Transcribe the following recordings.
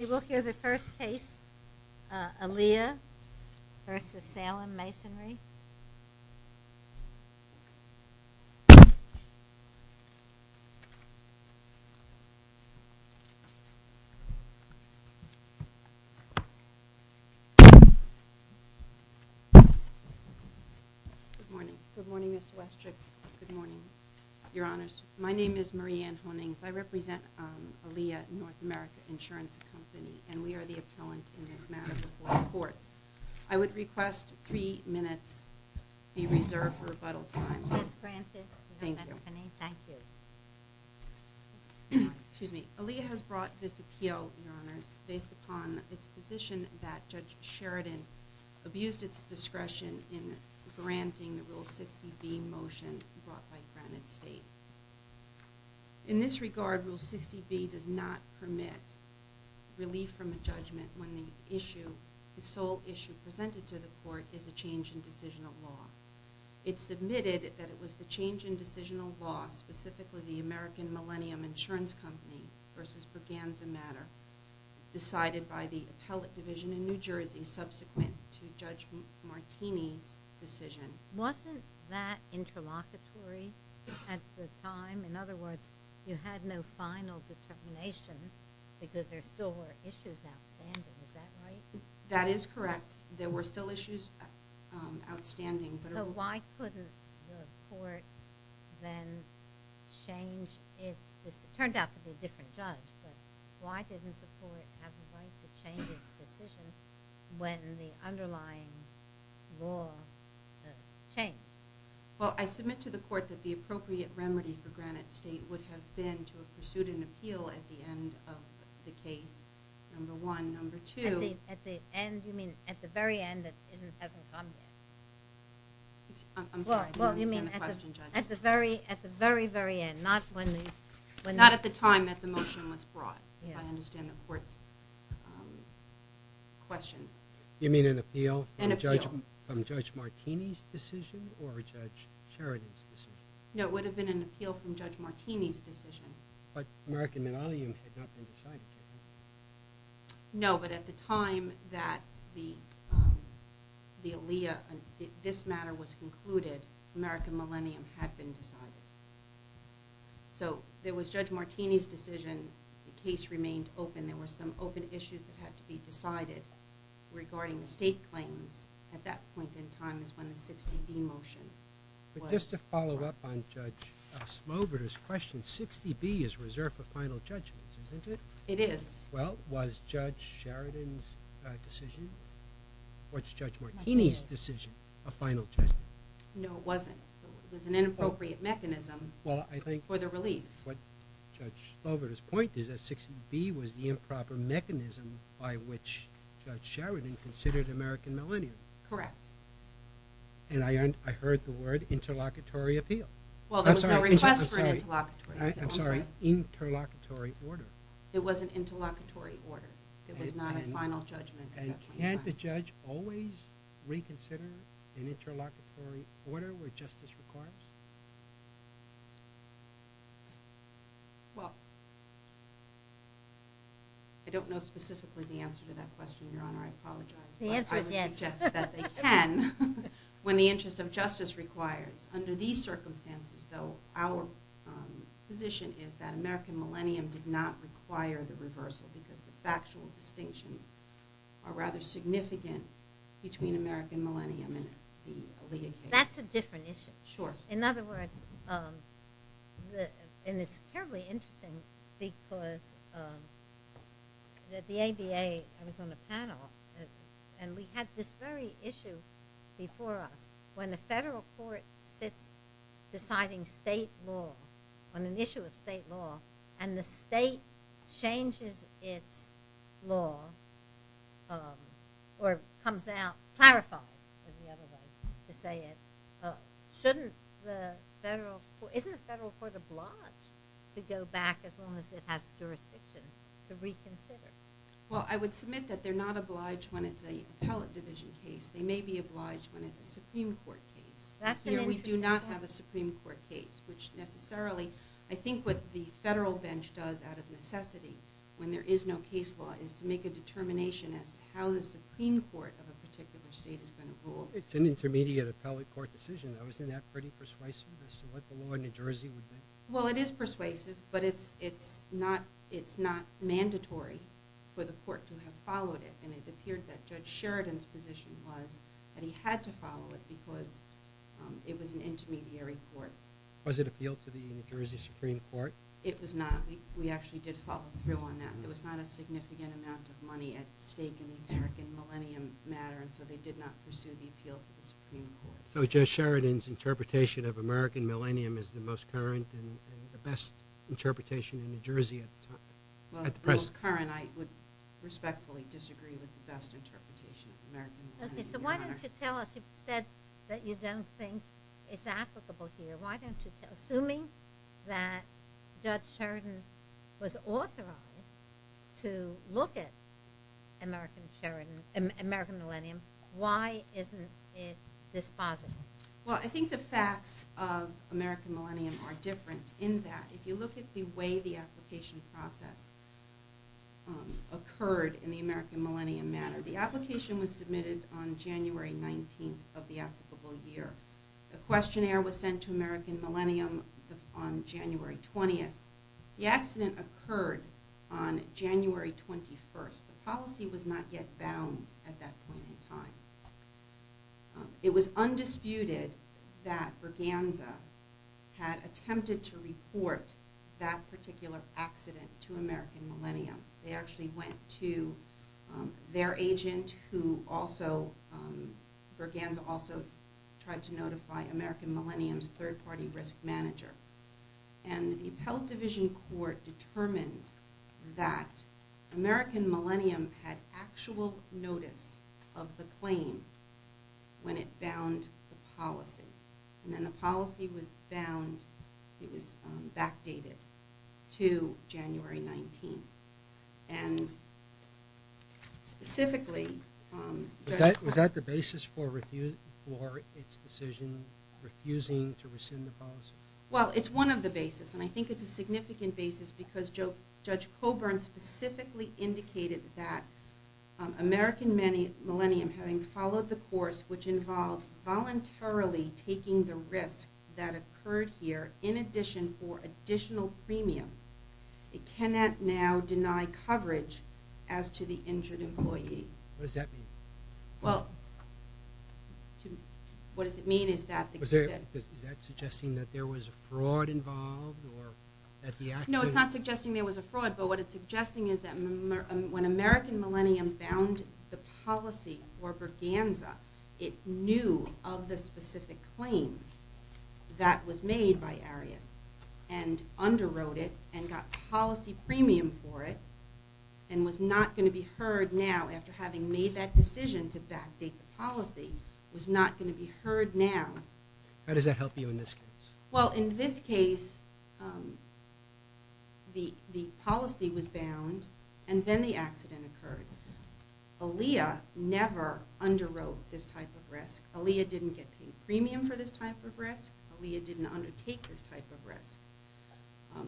We will hear the first case, Aaliyah v. Salem Masonry. Good morning. Good morning, Ms. Westrick. Good morning, Your Honors. My name is Marie Ann Honings. I represent Aaliyah North America Insurance Company, and we are the appellant in this matter before the court. I would request three minutes be reserved for rebuttal time. Yes, Francis. Thank you. Excuse me. Aaliyah has brought this appeal, Your Honors, based upon its position that Judge Sheridan abused its discretion in granting the Rule 60B motion brought by Granite State. In this regard, Rule 60B does not permit relief from a judgment when the sole issue presented to the court is a change in decisional law. It's admitted that it was the change in decisional law, specifically the American Millennium Insurance Company v. Perganza Matter, decided by the appellate division in New Jersey to be subsequent to Judge Martini's decision. Wasn't that interlocutory at the time? In other words, you had no final determination because there still were issues outstanding. Is that right? That is correct. There were still issues outstanding. So why couldn't the court then change its decision? It turned out to be a different judge, but why didn't the court have the right to change its decision when the underlying law had changed? Well, I submit to the court that the appropriate remedy for Granite State would have been to have pursued an appeal at the end of the case, number one. Number two— At the end? You mean at the very end that it hasn't come yet? I'm sorry. You understand the question, Judge. At the very, very end, not when— Not at the time that the motion was brought, if I understand the court's question. You mean an appeal from Judge Martini's decision or Judge Charity's decision? No, it would have been an appeal from Judge Martini's decision. But American Millennium had not been decided. No, but at the time that the alia, this matter was concluded, American Millennium had been decided. So there was Judge Martini's decision. The case remained open. There were some open issues that had to be decided regarding the state claims. At that point in time is when the 60B motion was— But just to follow up on Judge Osmover's question, 60B is reserved for final judgments, isn't it? It is. Well, was Judge Sheridan's decision or Judge Martini's decision a final judgment? No, it wasn't. It was an inappropriate mechanism for the relief. What Judge Osmover's point is that 60B was the improper mechanism by which Judge Sheridan considered American Millennium. Correct. And I heard the word interlocutory appeal. Well, there was no request for an interlocutory appeal. I'm sorry. Interlocutory order. It was an interlocutory order. It was not a final judgment at that point in time. Can't the judge always reconsider an interlocutory order where justice requires? Well, I don't know specifically the answer to that question, Your Honor. I apologize. The answer is yes. But I would suggest that they can when the interest of justice requires. Under these circumstances, though, our position is that American Millennium did not require the reversal because the factual distinctions are rather significant between American Millennium and the Aletheia case. That's a different issue. Sure. In other words, and it's terribly interesting because the ABA was on the panel and we had this very issue before us. When the federal court sits deciding state law on an issue of state law and the state changes its law or comes out, clarifies, is the other way to say it, shouldn't the federal court, isn't the federal court obliged to go back as long as it has jurisdiction to reconsider? Well, I would submit that they're not obliged when it's an appellate division case. They may be obliged when it's a Supreme Court case. Here we do not have a Supreme Court case, which necessarily I think what the federal bench does out of necessity when there is no case law is to make a determination as to how the Supreme Court of a particular state is going to rule. It's an intermediate appellate court decision, though. Isn't that pretty persuasive as to what the law in New Jersey would be? Well, it is persuasive, but it's not mandatory for the court to have followed it. And it appeared that Judge Sheridan's position was that he had to follow it because it was an intermediary court. Was it a field to the New Jersey Supreme Court? It was not. We actually did follow through on that. There was not a significant amount of money at stake in the American Millennium matter, and so they did not pursue the appeal to the Supreme Court. So Judge Sheridan's interpretation of American Millennium is the most current and the best interpretation in New Jersey at the time? Well, the most current. I would respectfully disagree with the best interpretation of American Millennium. Okay, so why don't you tell us, you've said that you don't think it's applicable here. Assuming that Judge Sheridan was authorized to look at American Millennium, why isn't it dispositive? Well, I think the facts of American Millennium are different in that if you look at the way the application process occurred in the American Millennium matter, the application was submitted on January 19th of the applicable year. The questionnaire was sent to American Millennium on January 20th. The accident occurred on January 21st. The policy was not yet bound at that point in time. It was undisputed that Berganza had attempted to report that particular accident to American Millennium. They actually went to their agent who also, Berganza also tried to notify American Millennium's third-party risk manager. And the appellate division court determined that American Millennium had actual notice of the claim when it bound the policy. And then the policy was backdated to January 19th. And specifically... Was that the basis for its decision, refusing to rescind the policy? Well, it's one of the basis, and I think it's a significant basis because Judge Coburn specifically indicated that American Millennium, having followed the course which involved voluntarily taking the risk that occurred here, in addition for additional premium, it cannot now deny coverage as to the injured employee. What does that mean? Well, what does it mean is that... Is that suggesting that there was fraud involved or that the accident... No, it's not suggesting there was a fraud, but what it's suggesting is that when American Millennium bound the policy for Berganza, it knew of the specific claim that was made by Arias and underwrote it and got policy premium for it and was not going to be heard now after having made that decision to backdate the policy. It was not going to be heard now. How does that help you in this case? Well, in this case, the policy was bound and then the accident occurred. Aaliyah never underwrote this type of risk. Aaliyah didn't get paid premium for this type of risk. Aaliyah didn't undertake this type of risk.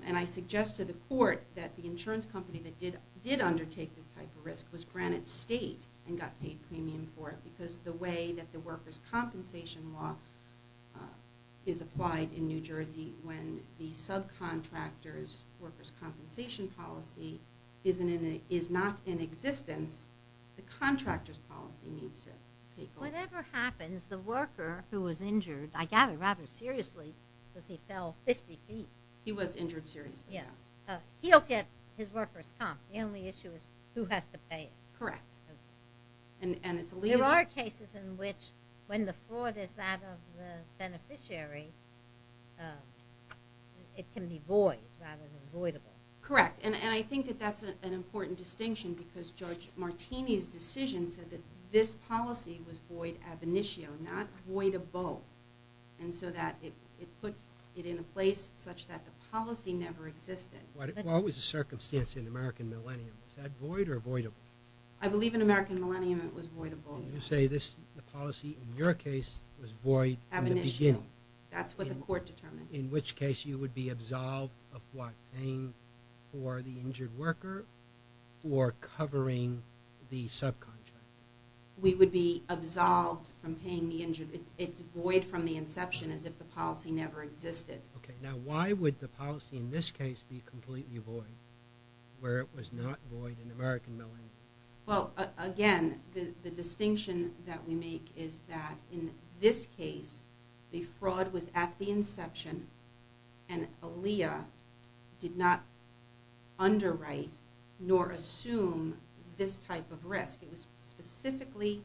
And I suggest to the court that the insurance company that did undertake this type of risk was Granite State and got paid premium for it because the way that the workers' compensation law is applied in New Jersey when the subcontractor's workers' compensation policy is not in existence, the contractor's policy needs to take over. Whatever happens, the worker who was injured, I gather rather seriously, because he fell 50 feet. He was injured seriously, yes. He'll get his workers' comp. The only issue is who has to pay. Correct. There are cases in which when the fraud is that of the beneficiary, it can be void rather than voidable. Correct. And I think that that's an important distinction because Judge Martini's decision said that this policy was void ab initio, not void of both, and so that it put it in a place such that the policy never existed. What was the circumstance in American Millennium? Was that void or voidable? I believe in American Millennium it was voidable. You say the policy in your case was void in the beginning. Ab initio. That's what the court determined. In which case you would be absolved of what? Paying for the injured worker or covering the subcontractor? We would be absolved from paying the injured. It's void from the inception as if the policy never existed. Okay. Now why would the policy in this case be completely void where it was not void in American Millennium? Well, again, the distinction that we make is that in this case, the fraud was at the inception and Aaliyah did not underwrite nor assume this type of risk. It was specifically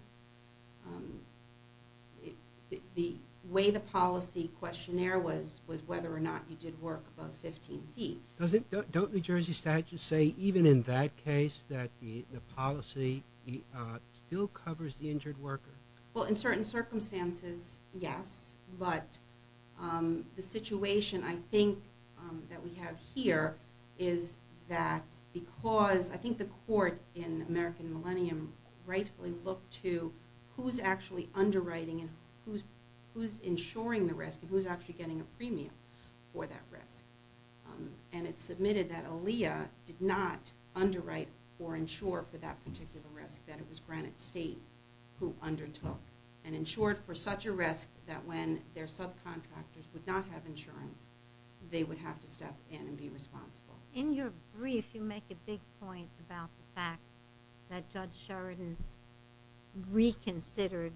the way the policy questionnaire was whether or not you did work above 15 feet. Don't New Jersey statutes say even in that case that the policy still covers the injured worker? Well, in certain circumstances, yes. But the situation I think that we have here is that because I think the court in American Millennium rightfully looked to who's actually underwriting and who's insuring the risk and who's actually getting a premium for that risk. And it's submitted that Aaliyah did not underwrite or insure for that particular risk that it was Granite State who undertook and insured for such a risk that when their subcontractors would not have insurance, they would have to step in and be responsible. In your brief, you make a big point about the fact that Judge Sheridan reconsidered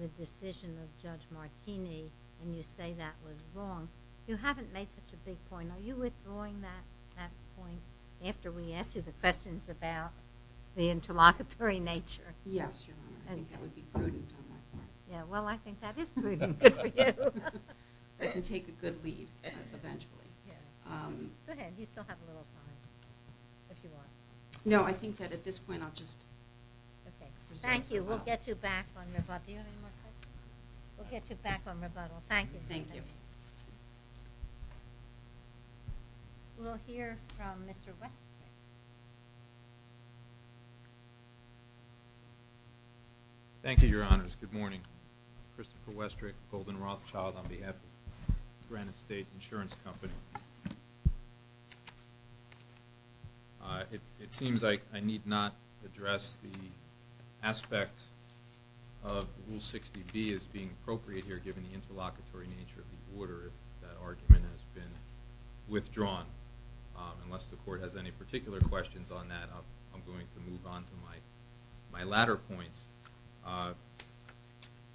the decision of Judge Martini and you say that was wrong. You haven't made such a big point. Are you withdrawing that point after we asked you the questions about the interlocutory nature? Yes, Your Honor. I think that would be prudent on that point. Yeah, well, I think that is prudent for you. And take a good leap eventually. Go ahead. You still have a little time if you want. No, I think that at this point I'll just... Okay, thank you. We'll get you back on your... Do you have any more questions? We'll get you back on rebuttal. Thank you. Thank you. We'll hear from Mr. Westrick. Thank you, Your Honors. Good morning. Christopher Westrick, Golden Rothschild, on behalf of Granite State Insurance Company. It seems like I need not address the aspect of Rule 60B as being appropriate here given the interlocutory nature of the order that argument has been withdrawn. Unless the Court has any particular questions on that, I'm going to move on to my latter points,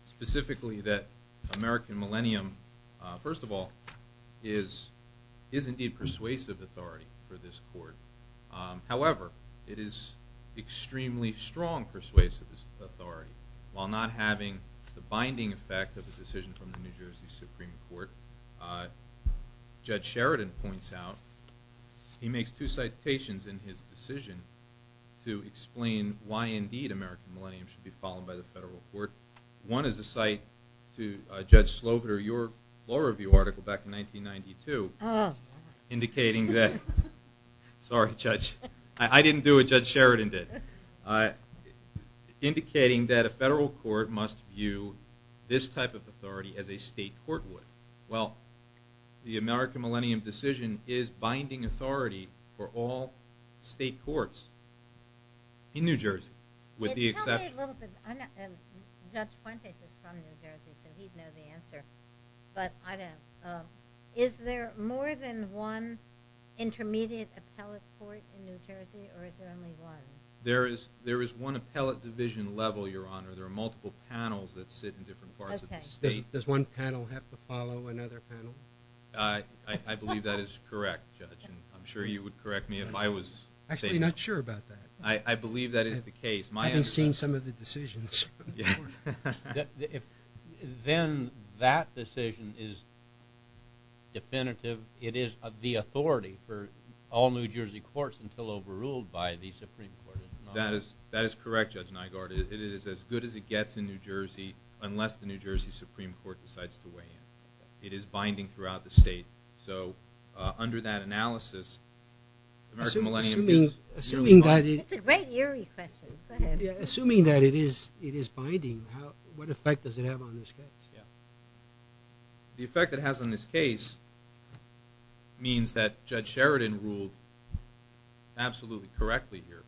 specifically that American Millennium, first of all, is indeed persuasive authority for this Court. However, it is extremely strong persuasive authority. While not having the binding effect of the decision from the New Jersey Supreme Court, Judge Sheridan points out he makes two citations in his decision to explain why indeed American Millennium should be followed by the federal court. One is a cite to Judge Slobiter, your law review article back in 1992, indicating that... Sorry, Judge. I didn't do what Judge Sheridan did. Indicating that a federal court must view this type of authority as a state court would. Well, the American Millennium decision is binding authority for all state courts in New Jersey with the exception... Tell me a little bit... Judge Fuentes is from New Jersey, so he'd know the answer, but I don't. Is there more than one intermediate appellate court in New Jersey, or is there only one? There is one appellate division level, Your Honor. There are multiple panels that sit in different parts of the state. Does one panel have to follow another panel? I believe that is correct, Judge, and I'm sure you would correct me if I was... Actually, I'm not sure about that. I believe that is the case. I haven't seen some of the decisions. Then that decision is definitive. It is the authority for all New Jersey courts until overruled by the Supreme Court. That is correct, Judge Nygaard. It is as good as it gets in New Jersey unless the New Jersey Supreme Court decides to weigh in. It is binding throughout the state, so under that analysis, the American Millennium case... It's a great eerie question. Go ahead. Assuming that it is binding, what effect does it have on this case? Yeah. The effect it has on this case means that Judge Sheridan ruled absolutely correctly here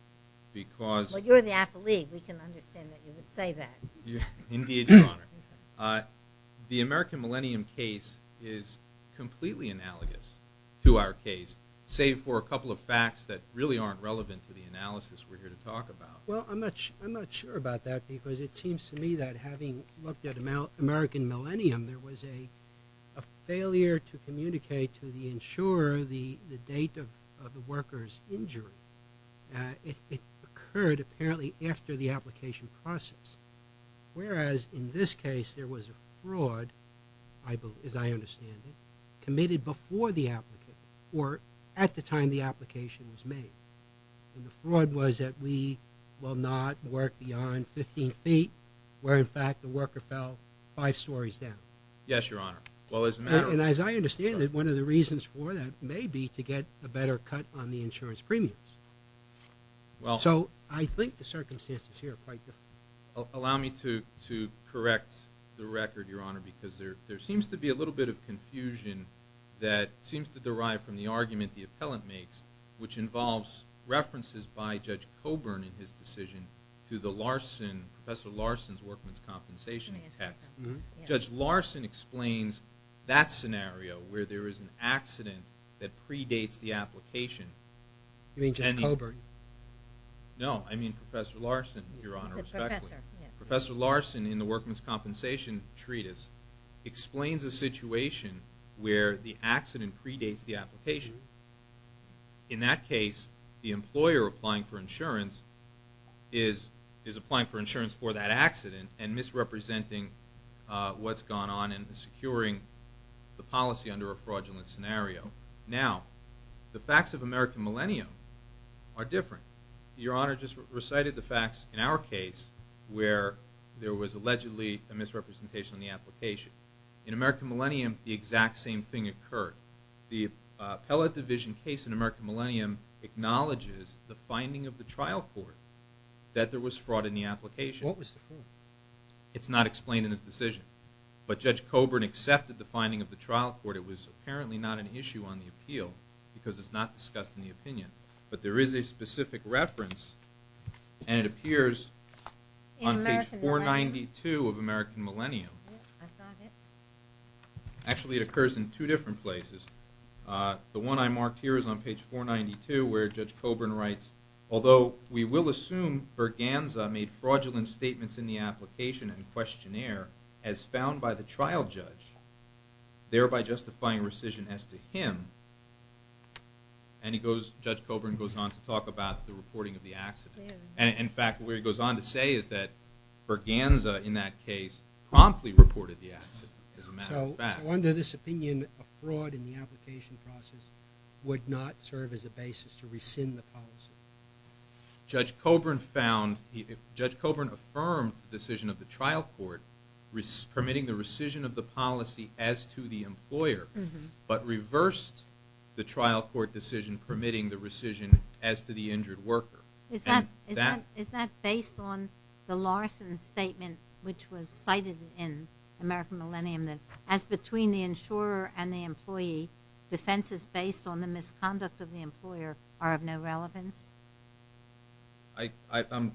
because... Well, you're the appellee. We can understand that you would say that. Indeed, Your Honor. The American Millennium case is completely analogous to our case, save for a couple of facts that really aren't relevant to the analysis we're here to talk about. Well, I'm not sure about that because it seems to me that having looked at American Millennium, there was a failure to communicate to the insurer the date of the worker's injury. It occurred apparently after the application process, whereas in this case there was a fraud, as I understand it, committed before the applicant, or at the time the application was made. And the fraud was that we will not work beyond 15 feet, where in fact the worker fell five stories down. Yes, Your Honor. And as I understand it, one of the reasons for that may be to get a better cut on the insurance premiums. So I think the circumstances here are quite different. Allow me to correct the record, Your Honor, because there seems to be a little bit of confusion that seems to derive from the argument the appellant makes, which involves references by Judge Coburn in his decision to Professor Larson's workman's compensation text. Judge Larson explains that scenario where there is an accident that predates the application. You mean Judge Coburn? No, I mean Professor Larson, Your Honor, respectfully. Professor Larson in the workman's compensation treatise explains a situation where the accident predates the application. In that case, the employer applying for insurance is applying for insurance for that accident and misrepresenting what's gone on and securing the policy under a fraudulent scenario. Now, the facts of American Millennium are different. Your Honor just recited the facts in our case where there was allegedly a misrepresentation in the application. In American Millennium, the exact same thing occurred. The appellate division case in American Millennium acknowledges the finding of the trial court that there was fraud in the application. What was the fraud? It's not explained in the decision. But Judge Coburn accepted the finding of the trial court. It was apparently not an issue on the appeal because it's not discussed in the opinion. But there is a specific reference, and it appears on page 492 of American Millennium. Actually, it occurs in two different places. The one I marked here is on page 492 where Judge Coburn writes, although we will assume Berganza made fraudulent statements in the application and questionnaire as found by the trial judge, thereby justifying rescission as to him. And Judge Coburn goes on to talk about the reporting of the accident. In fact, what he goes on to say is that Berganza in that case promptly reported the accident as a matter of fact. So under this opinion, a fraud in the application process would not serve as a basis to rescind the policy? Judge Coburn found, Judge Coburn affirmed the decision of the trial court permitting the rescission of the policy as to the employer, but reversed the trial court decision permitting the rescission as to the injured worker. Is that based on the Larson statement which was cited in American Millennium that as between the insurer and the employee, defenses based on the misconduct of the employer are of no relevance? I'm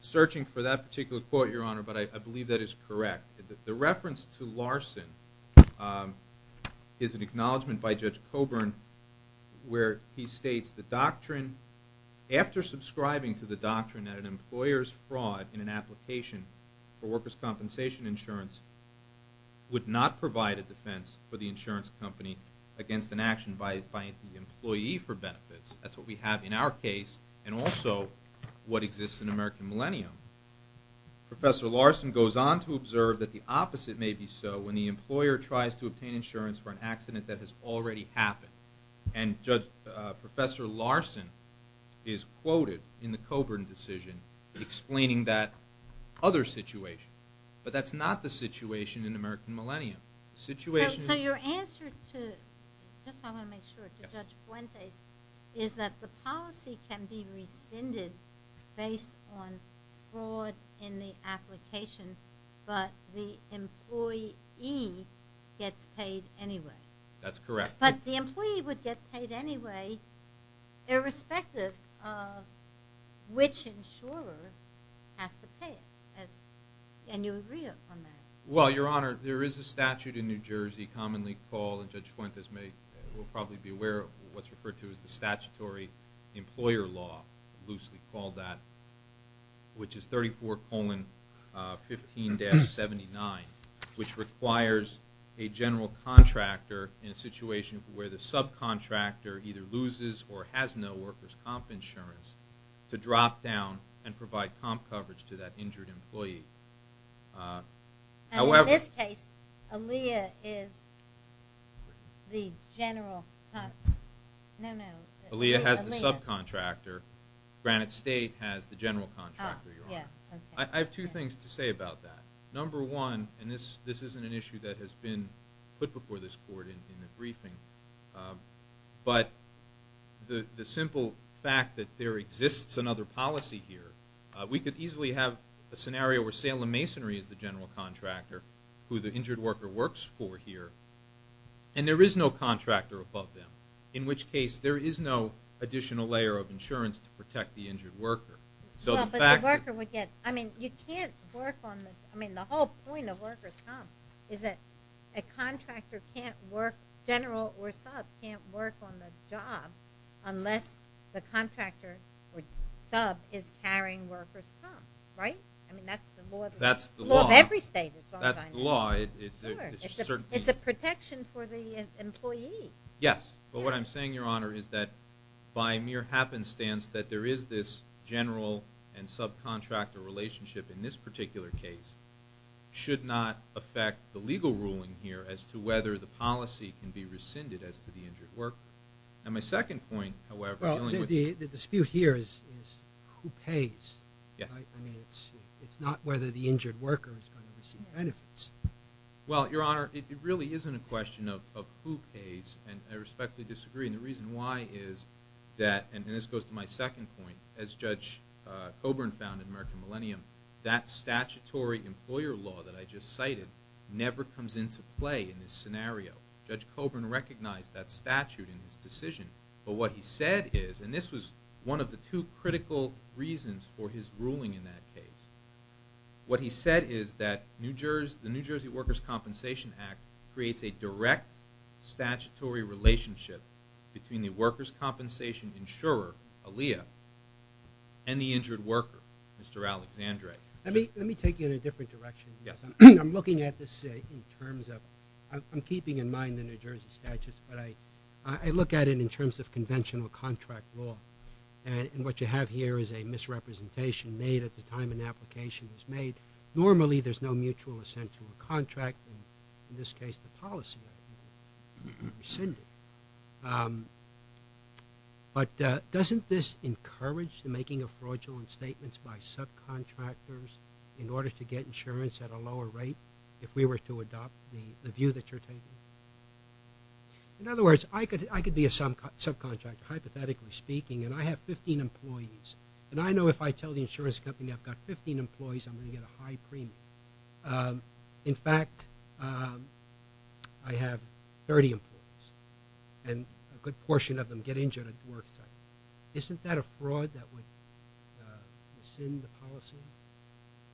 searching for that particular quote, Your Honor, but I believe that is correct. The reference to Larson is an acknowledgment by Judge Coburn where he states the doctrine, after subscribing to the doctrine that an employer's fraud in an application for worker's compensation insurance would not provide a defense for the insurance company against an action by the employee for benefits. That's what we have in our case and also what exists in American Millennium. Professor Larson goes on to observe that the opposite may be so when the employer tries to obtain insurance for an accident that has already happened. And Professor Larson is quoted in the Coburn decision explaining that other situation, but that's not the situation in American Millennium. So your answer to Judge Fuentes is that the policy can be rescinded based on fraud in the application, but the employee gets paid anyway. That's correct. But the employee would get paid anyway irrespective of which insurer has to pay it, and you agree on that. Well, Your Honor, there is a statute in New Jersey commonly called, and Judge Fuentes will probably be aware of it, what's referred to as the statutory employer law, loosely called that, which is 34-15-79, which requires a general contractor in a situation where the subcontractor either loses or has no worker's comp insurance to drop down and provide comp coverage to that injured employee. And in this case, Aaliyah is the general contractor. No, no. Aaliyah has the subcontractor. Granite State has the general contractor, Your Honor. I have two things to say about that. Number one, and this isn't an issue that has been put before this Court in the briefing, but the simple fact that there exists another policy here, we could easily have a scenario where Salem Masonry is the general contractor who the injured worker works for here, and there is no contractor above them, in which case there is no additional layer of insurance to protect the injured worker. But the worker would get, I mean, you can't work on the, I mean, the whole point of worker's comp is that a contractor can't work, general or sub, can't work on the job unless the contractor or sub is carrying worker's comp, right? I mean, that's the law. That's the law. The law of every state, as long as I know. That's the law. Sure. It's a protection for the employee. Yes, but what I'm saying, Your Honor, is that by mere happenstance that there is this general and subcontractor relationship in this particular case should not affect the legal ruling here as to whether the policy can be rescinded as to the injured worker. And my second point, however... Well, the dispute here is who pays, right? I mean, it's not whether the injured worker is going to receive benefits. Well, Your Honor, it really isn't a question of who pays, and I respectfully disagree. And the reason why is that, and this goes to my second point, as Judge Coburn found in American Millennium, never comes into play in this scenario. Judge Coburn recognized that statute in his decision, but what he said is, and this was one of the two critical reasons for his ruling in that case, what he said is that the New Jersey Workers' Compensation Act creates a direct statutory relationship between the workers' compensation insurer, Aaliyah, and the injured worker, Mr. Alexandre. Let me take you in a different direction. Yes. I'm looking at this in terms of... I'm keeping in mind the New Jersey statutes, but I look at it in terms of conventional contract law. And what you have here is a misrepresentation made at the time an application was made. Normally, there's no mutual assent to a contract, and in this case, the policy would be rescinded. But doesn't this encourage the making of fraudulent statements by subcontractors in order to get insurance at a lower rate if we were to adopt the view that you're taking? In other words, I could be a subcontractor, hypothetically speaking, and I have 15 employees, and I know if I tell the insurance company I've got 15 employees, I'm going to get a high premium. In fact, I have 30 employees, and a good portion of them get injured at the work site. Isn't that a fraud that would rescind the policy?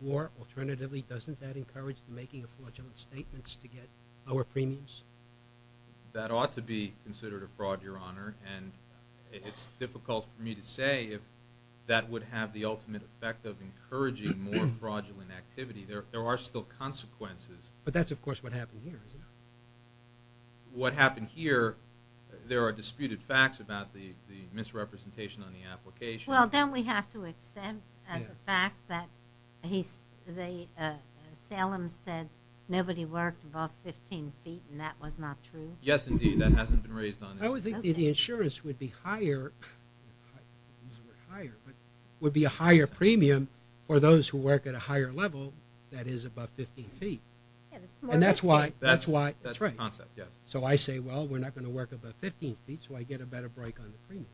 Or, alternatively, doesn't that encourage the making of fraudulent statements to get lower premiums? That ought to be considered a fraud, Your Honor, and it's difficult for me to say if that would have the ultimate effect of encouraging more fraudulent activity. There are still consequences. But that's, of course, what happened here, isn't it? What happened here, there are disputed facts about the misrepresentation on the application. Well, don't we have to accept the fact that Salem said nobody worked above 15 feet, and that was not true? Yes, indeed, that hasn't been raised on this. I would think the insurance would be higher, would be a higher premium for those who work at a higher level that is above 15 feet. And that's why... That's the concept, yes. So I say, well, we're not going to work above 15 feet so I get a better break on the premium.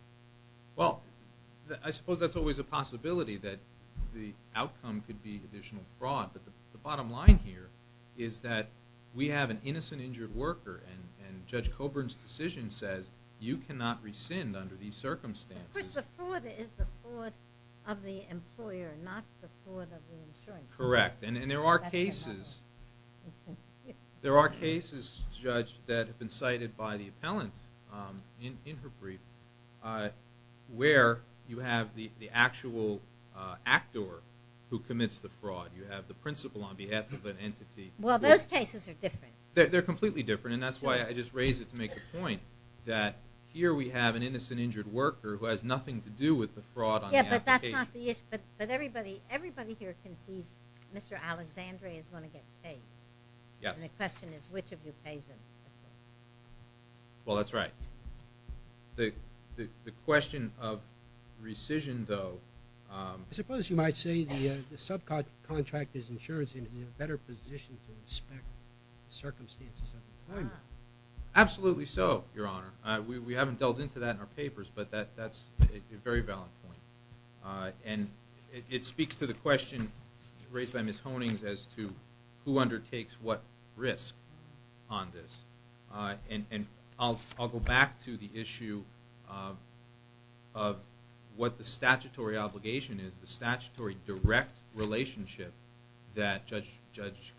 Well, I suppose that's always a possibility that the outcome could be additional fraud. But the bottom line here is that we have an innocent injured worker, and Judge Coburn's decision says you cannot rescind under these circumstances. Of course, the fraud is the fraud of the employer, not the fraud of the insurance company. Correct, and there are cases... that have been cited by the appellant in her brief where you have the actual actor who commits the fraud. You have the principal on behalf of an entity. Well, those cases are different. They're completely different, and that's why I just raised it to make the point that here we have an innocent injured worker who has nothing to do with the fraud on the application. Yeah, but that's not the issue. But everybody here concedes Mr. Alexandre is going to get paid. Yes. And the question is, which of you pays him? Well, that's right. The question of rescission, though... I suppose you might say the subcontractor's insurance is in a better position to inspect the circumstances of employment. Absolutely so, Your Honor. We haven't delved into that in our papers, but that's a very valid point. And it speaks to the question raised by Ms. Honings as to who undertakes what risk on this. And I'll go back to the issue of what the statutory obligation is, the statutory direct relationship that Judge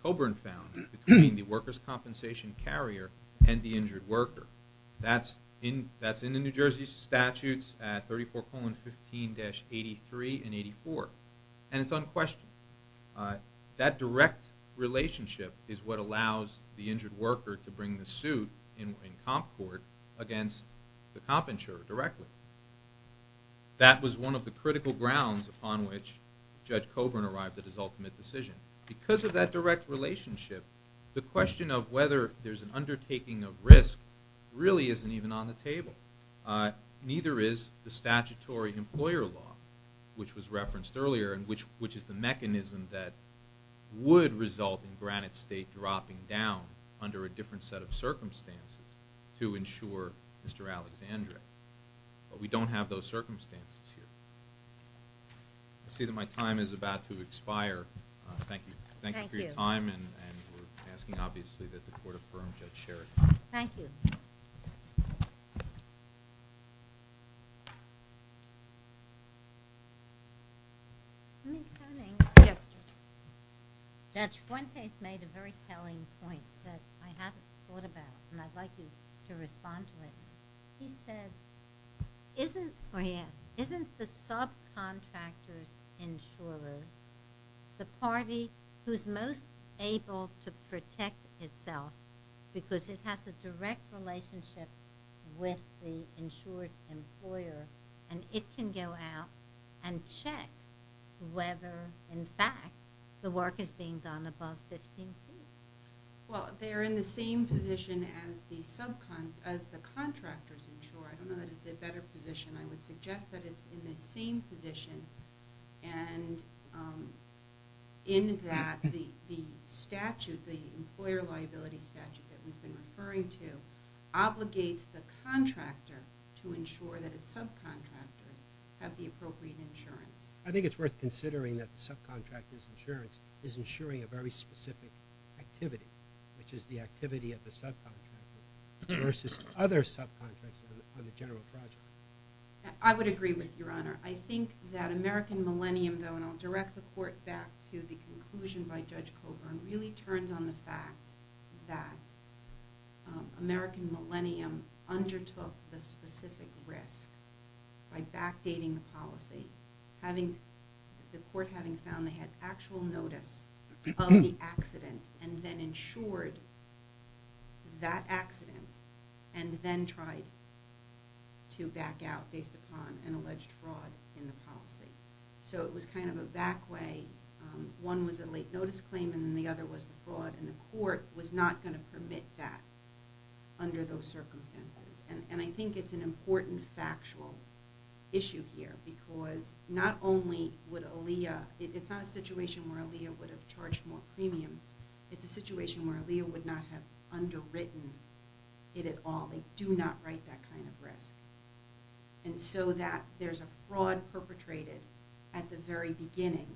Coburn found between the workers' compensation carrier and the injured worker. That's in the New Jersey statutes at 34-15-83 and 84, and it's unquestioned. That direct relationship is what allows the injured worker to bring the suit in comp court against the comp insurer directly. That was one of the critical grounds upon which Judge Coburn arrived at his ultimate decision. Because of that direct relationship, the question of whether there's an undertaking of risk really isn't even on the table. Neither is the statutory employer law, which was referenced earlier, and which is the mechanism that would result in Granite State dropping down under a different set of circumstances to insure Mr. Alexandria. But we don't have those circumstances here. I see that my time is about to expire. Thank you for your time, and we're asking, obviously, that the court affirm Judge Sheridan. Thank you. Yes. Judge Fuentes made a very telling point that I hadn't thought about, and I'd like you to respond to it. He said, or he asked, isn't the subcontractor's insurer the party who's most able to protect itself because it has a direct relationship with the insured employer, and it can go out and check whether, in fact, the work is being done above 15 feet? Well, they're in the same position as the contractors insurer. I don't know that it's a better position. I would suggest that it's in the same position, and in that the statute, the employer liability statute that we've been referring to, obligates the contractor to ensure that its subcontractors have the appropriate insurance. I think it's worth considering that the subcontractor's insurance is insuring a very specific activity, which is the activity of the subcontractor versus other subcontractors on the general project. I would agree with you, Your Honor. I think that American Millennium, though, and I'll direct the court back to the conclusion by Judge Coburn, really turns on the fact that American Millennium undertook the specific risk by backdating the policy, the court having found they had actual notice of the accident and then insured that accident and then tried to back out based upon an alleged fraud in the policy. So it was kind of a back way. One was a late notice claim and then the other was the fraud, and the court was not going to permit that under those circumstances. And I think it's an important factual issue here because not only would Aaliyah... It's not a situation where Aaliyah would have charged more premiums. It's a situation where Aaliyah would not have underwritten it at all. They do not write that kind of risk. And so that there's a fraud perpetrated at the very beginning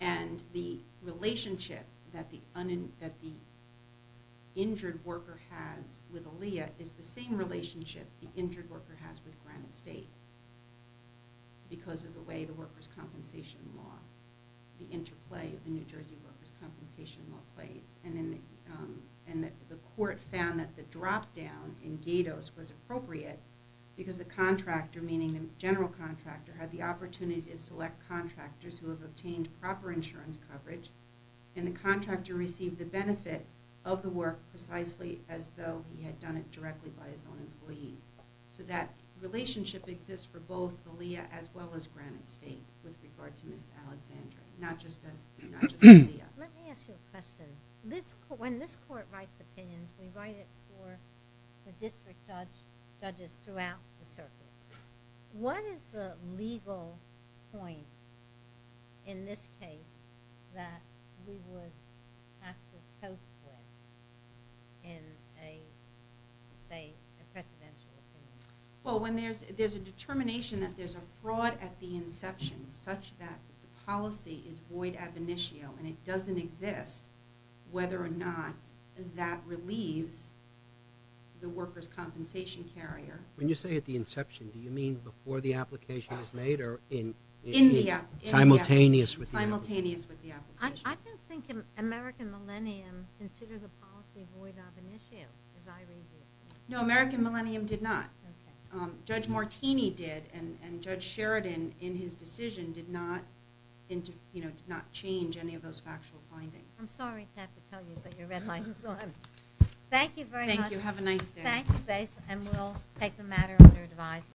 and the relationship that the injured worker has with Aaliyah is the same relationship the injured worker has with Granite State because of the way the workers' compensation law, the interplay of the New Jersey workers' compensation law plays. And the court found that the drop down in GATOS was appropriate because the contractor, meaning the general contractor, had the opportunity to select contractors who have obtained proper insurance coverage and the contractor received the benefit of the work precisely as though he had done it directly by his own employees. So that relationship exists for both Aaliyah as well as Granite State with regard to Ms. Alexandria, not just Aaliyah. Let me ask you a question. When this court writes opinions, we write it for the district judges throughout the circuit. What is the legal point in this case that we would have to cope with in a, say, a precedential opinion? Well, when there's a determination that there's a fraud at the inception such that the policy is void ad venitio and it doesn't exist, whether or not that relieves the workers' compensation carrier... When you say at the inception, or in... In the... Simultaneous with the... Simultaneous with the application. I don't think American Millennium considered the policy void ad venitio, as I read it. No, American Millennium did not. Judge Martini did, and Judge Sheridan, in his decision, did not change any of those factual findings. I'm sorry to have to tell you, but your red light is on. Thank you very much. Thank you. Have a nice day. Thank you, Grace, and we'll take the matter under advisement.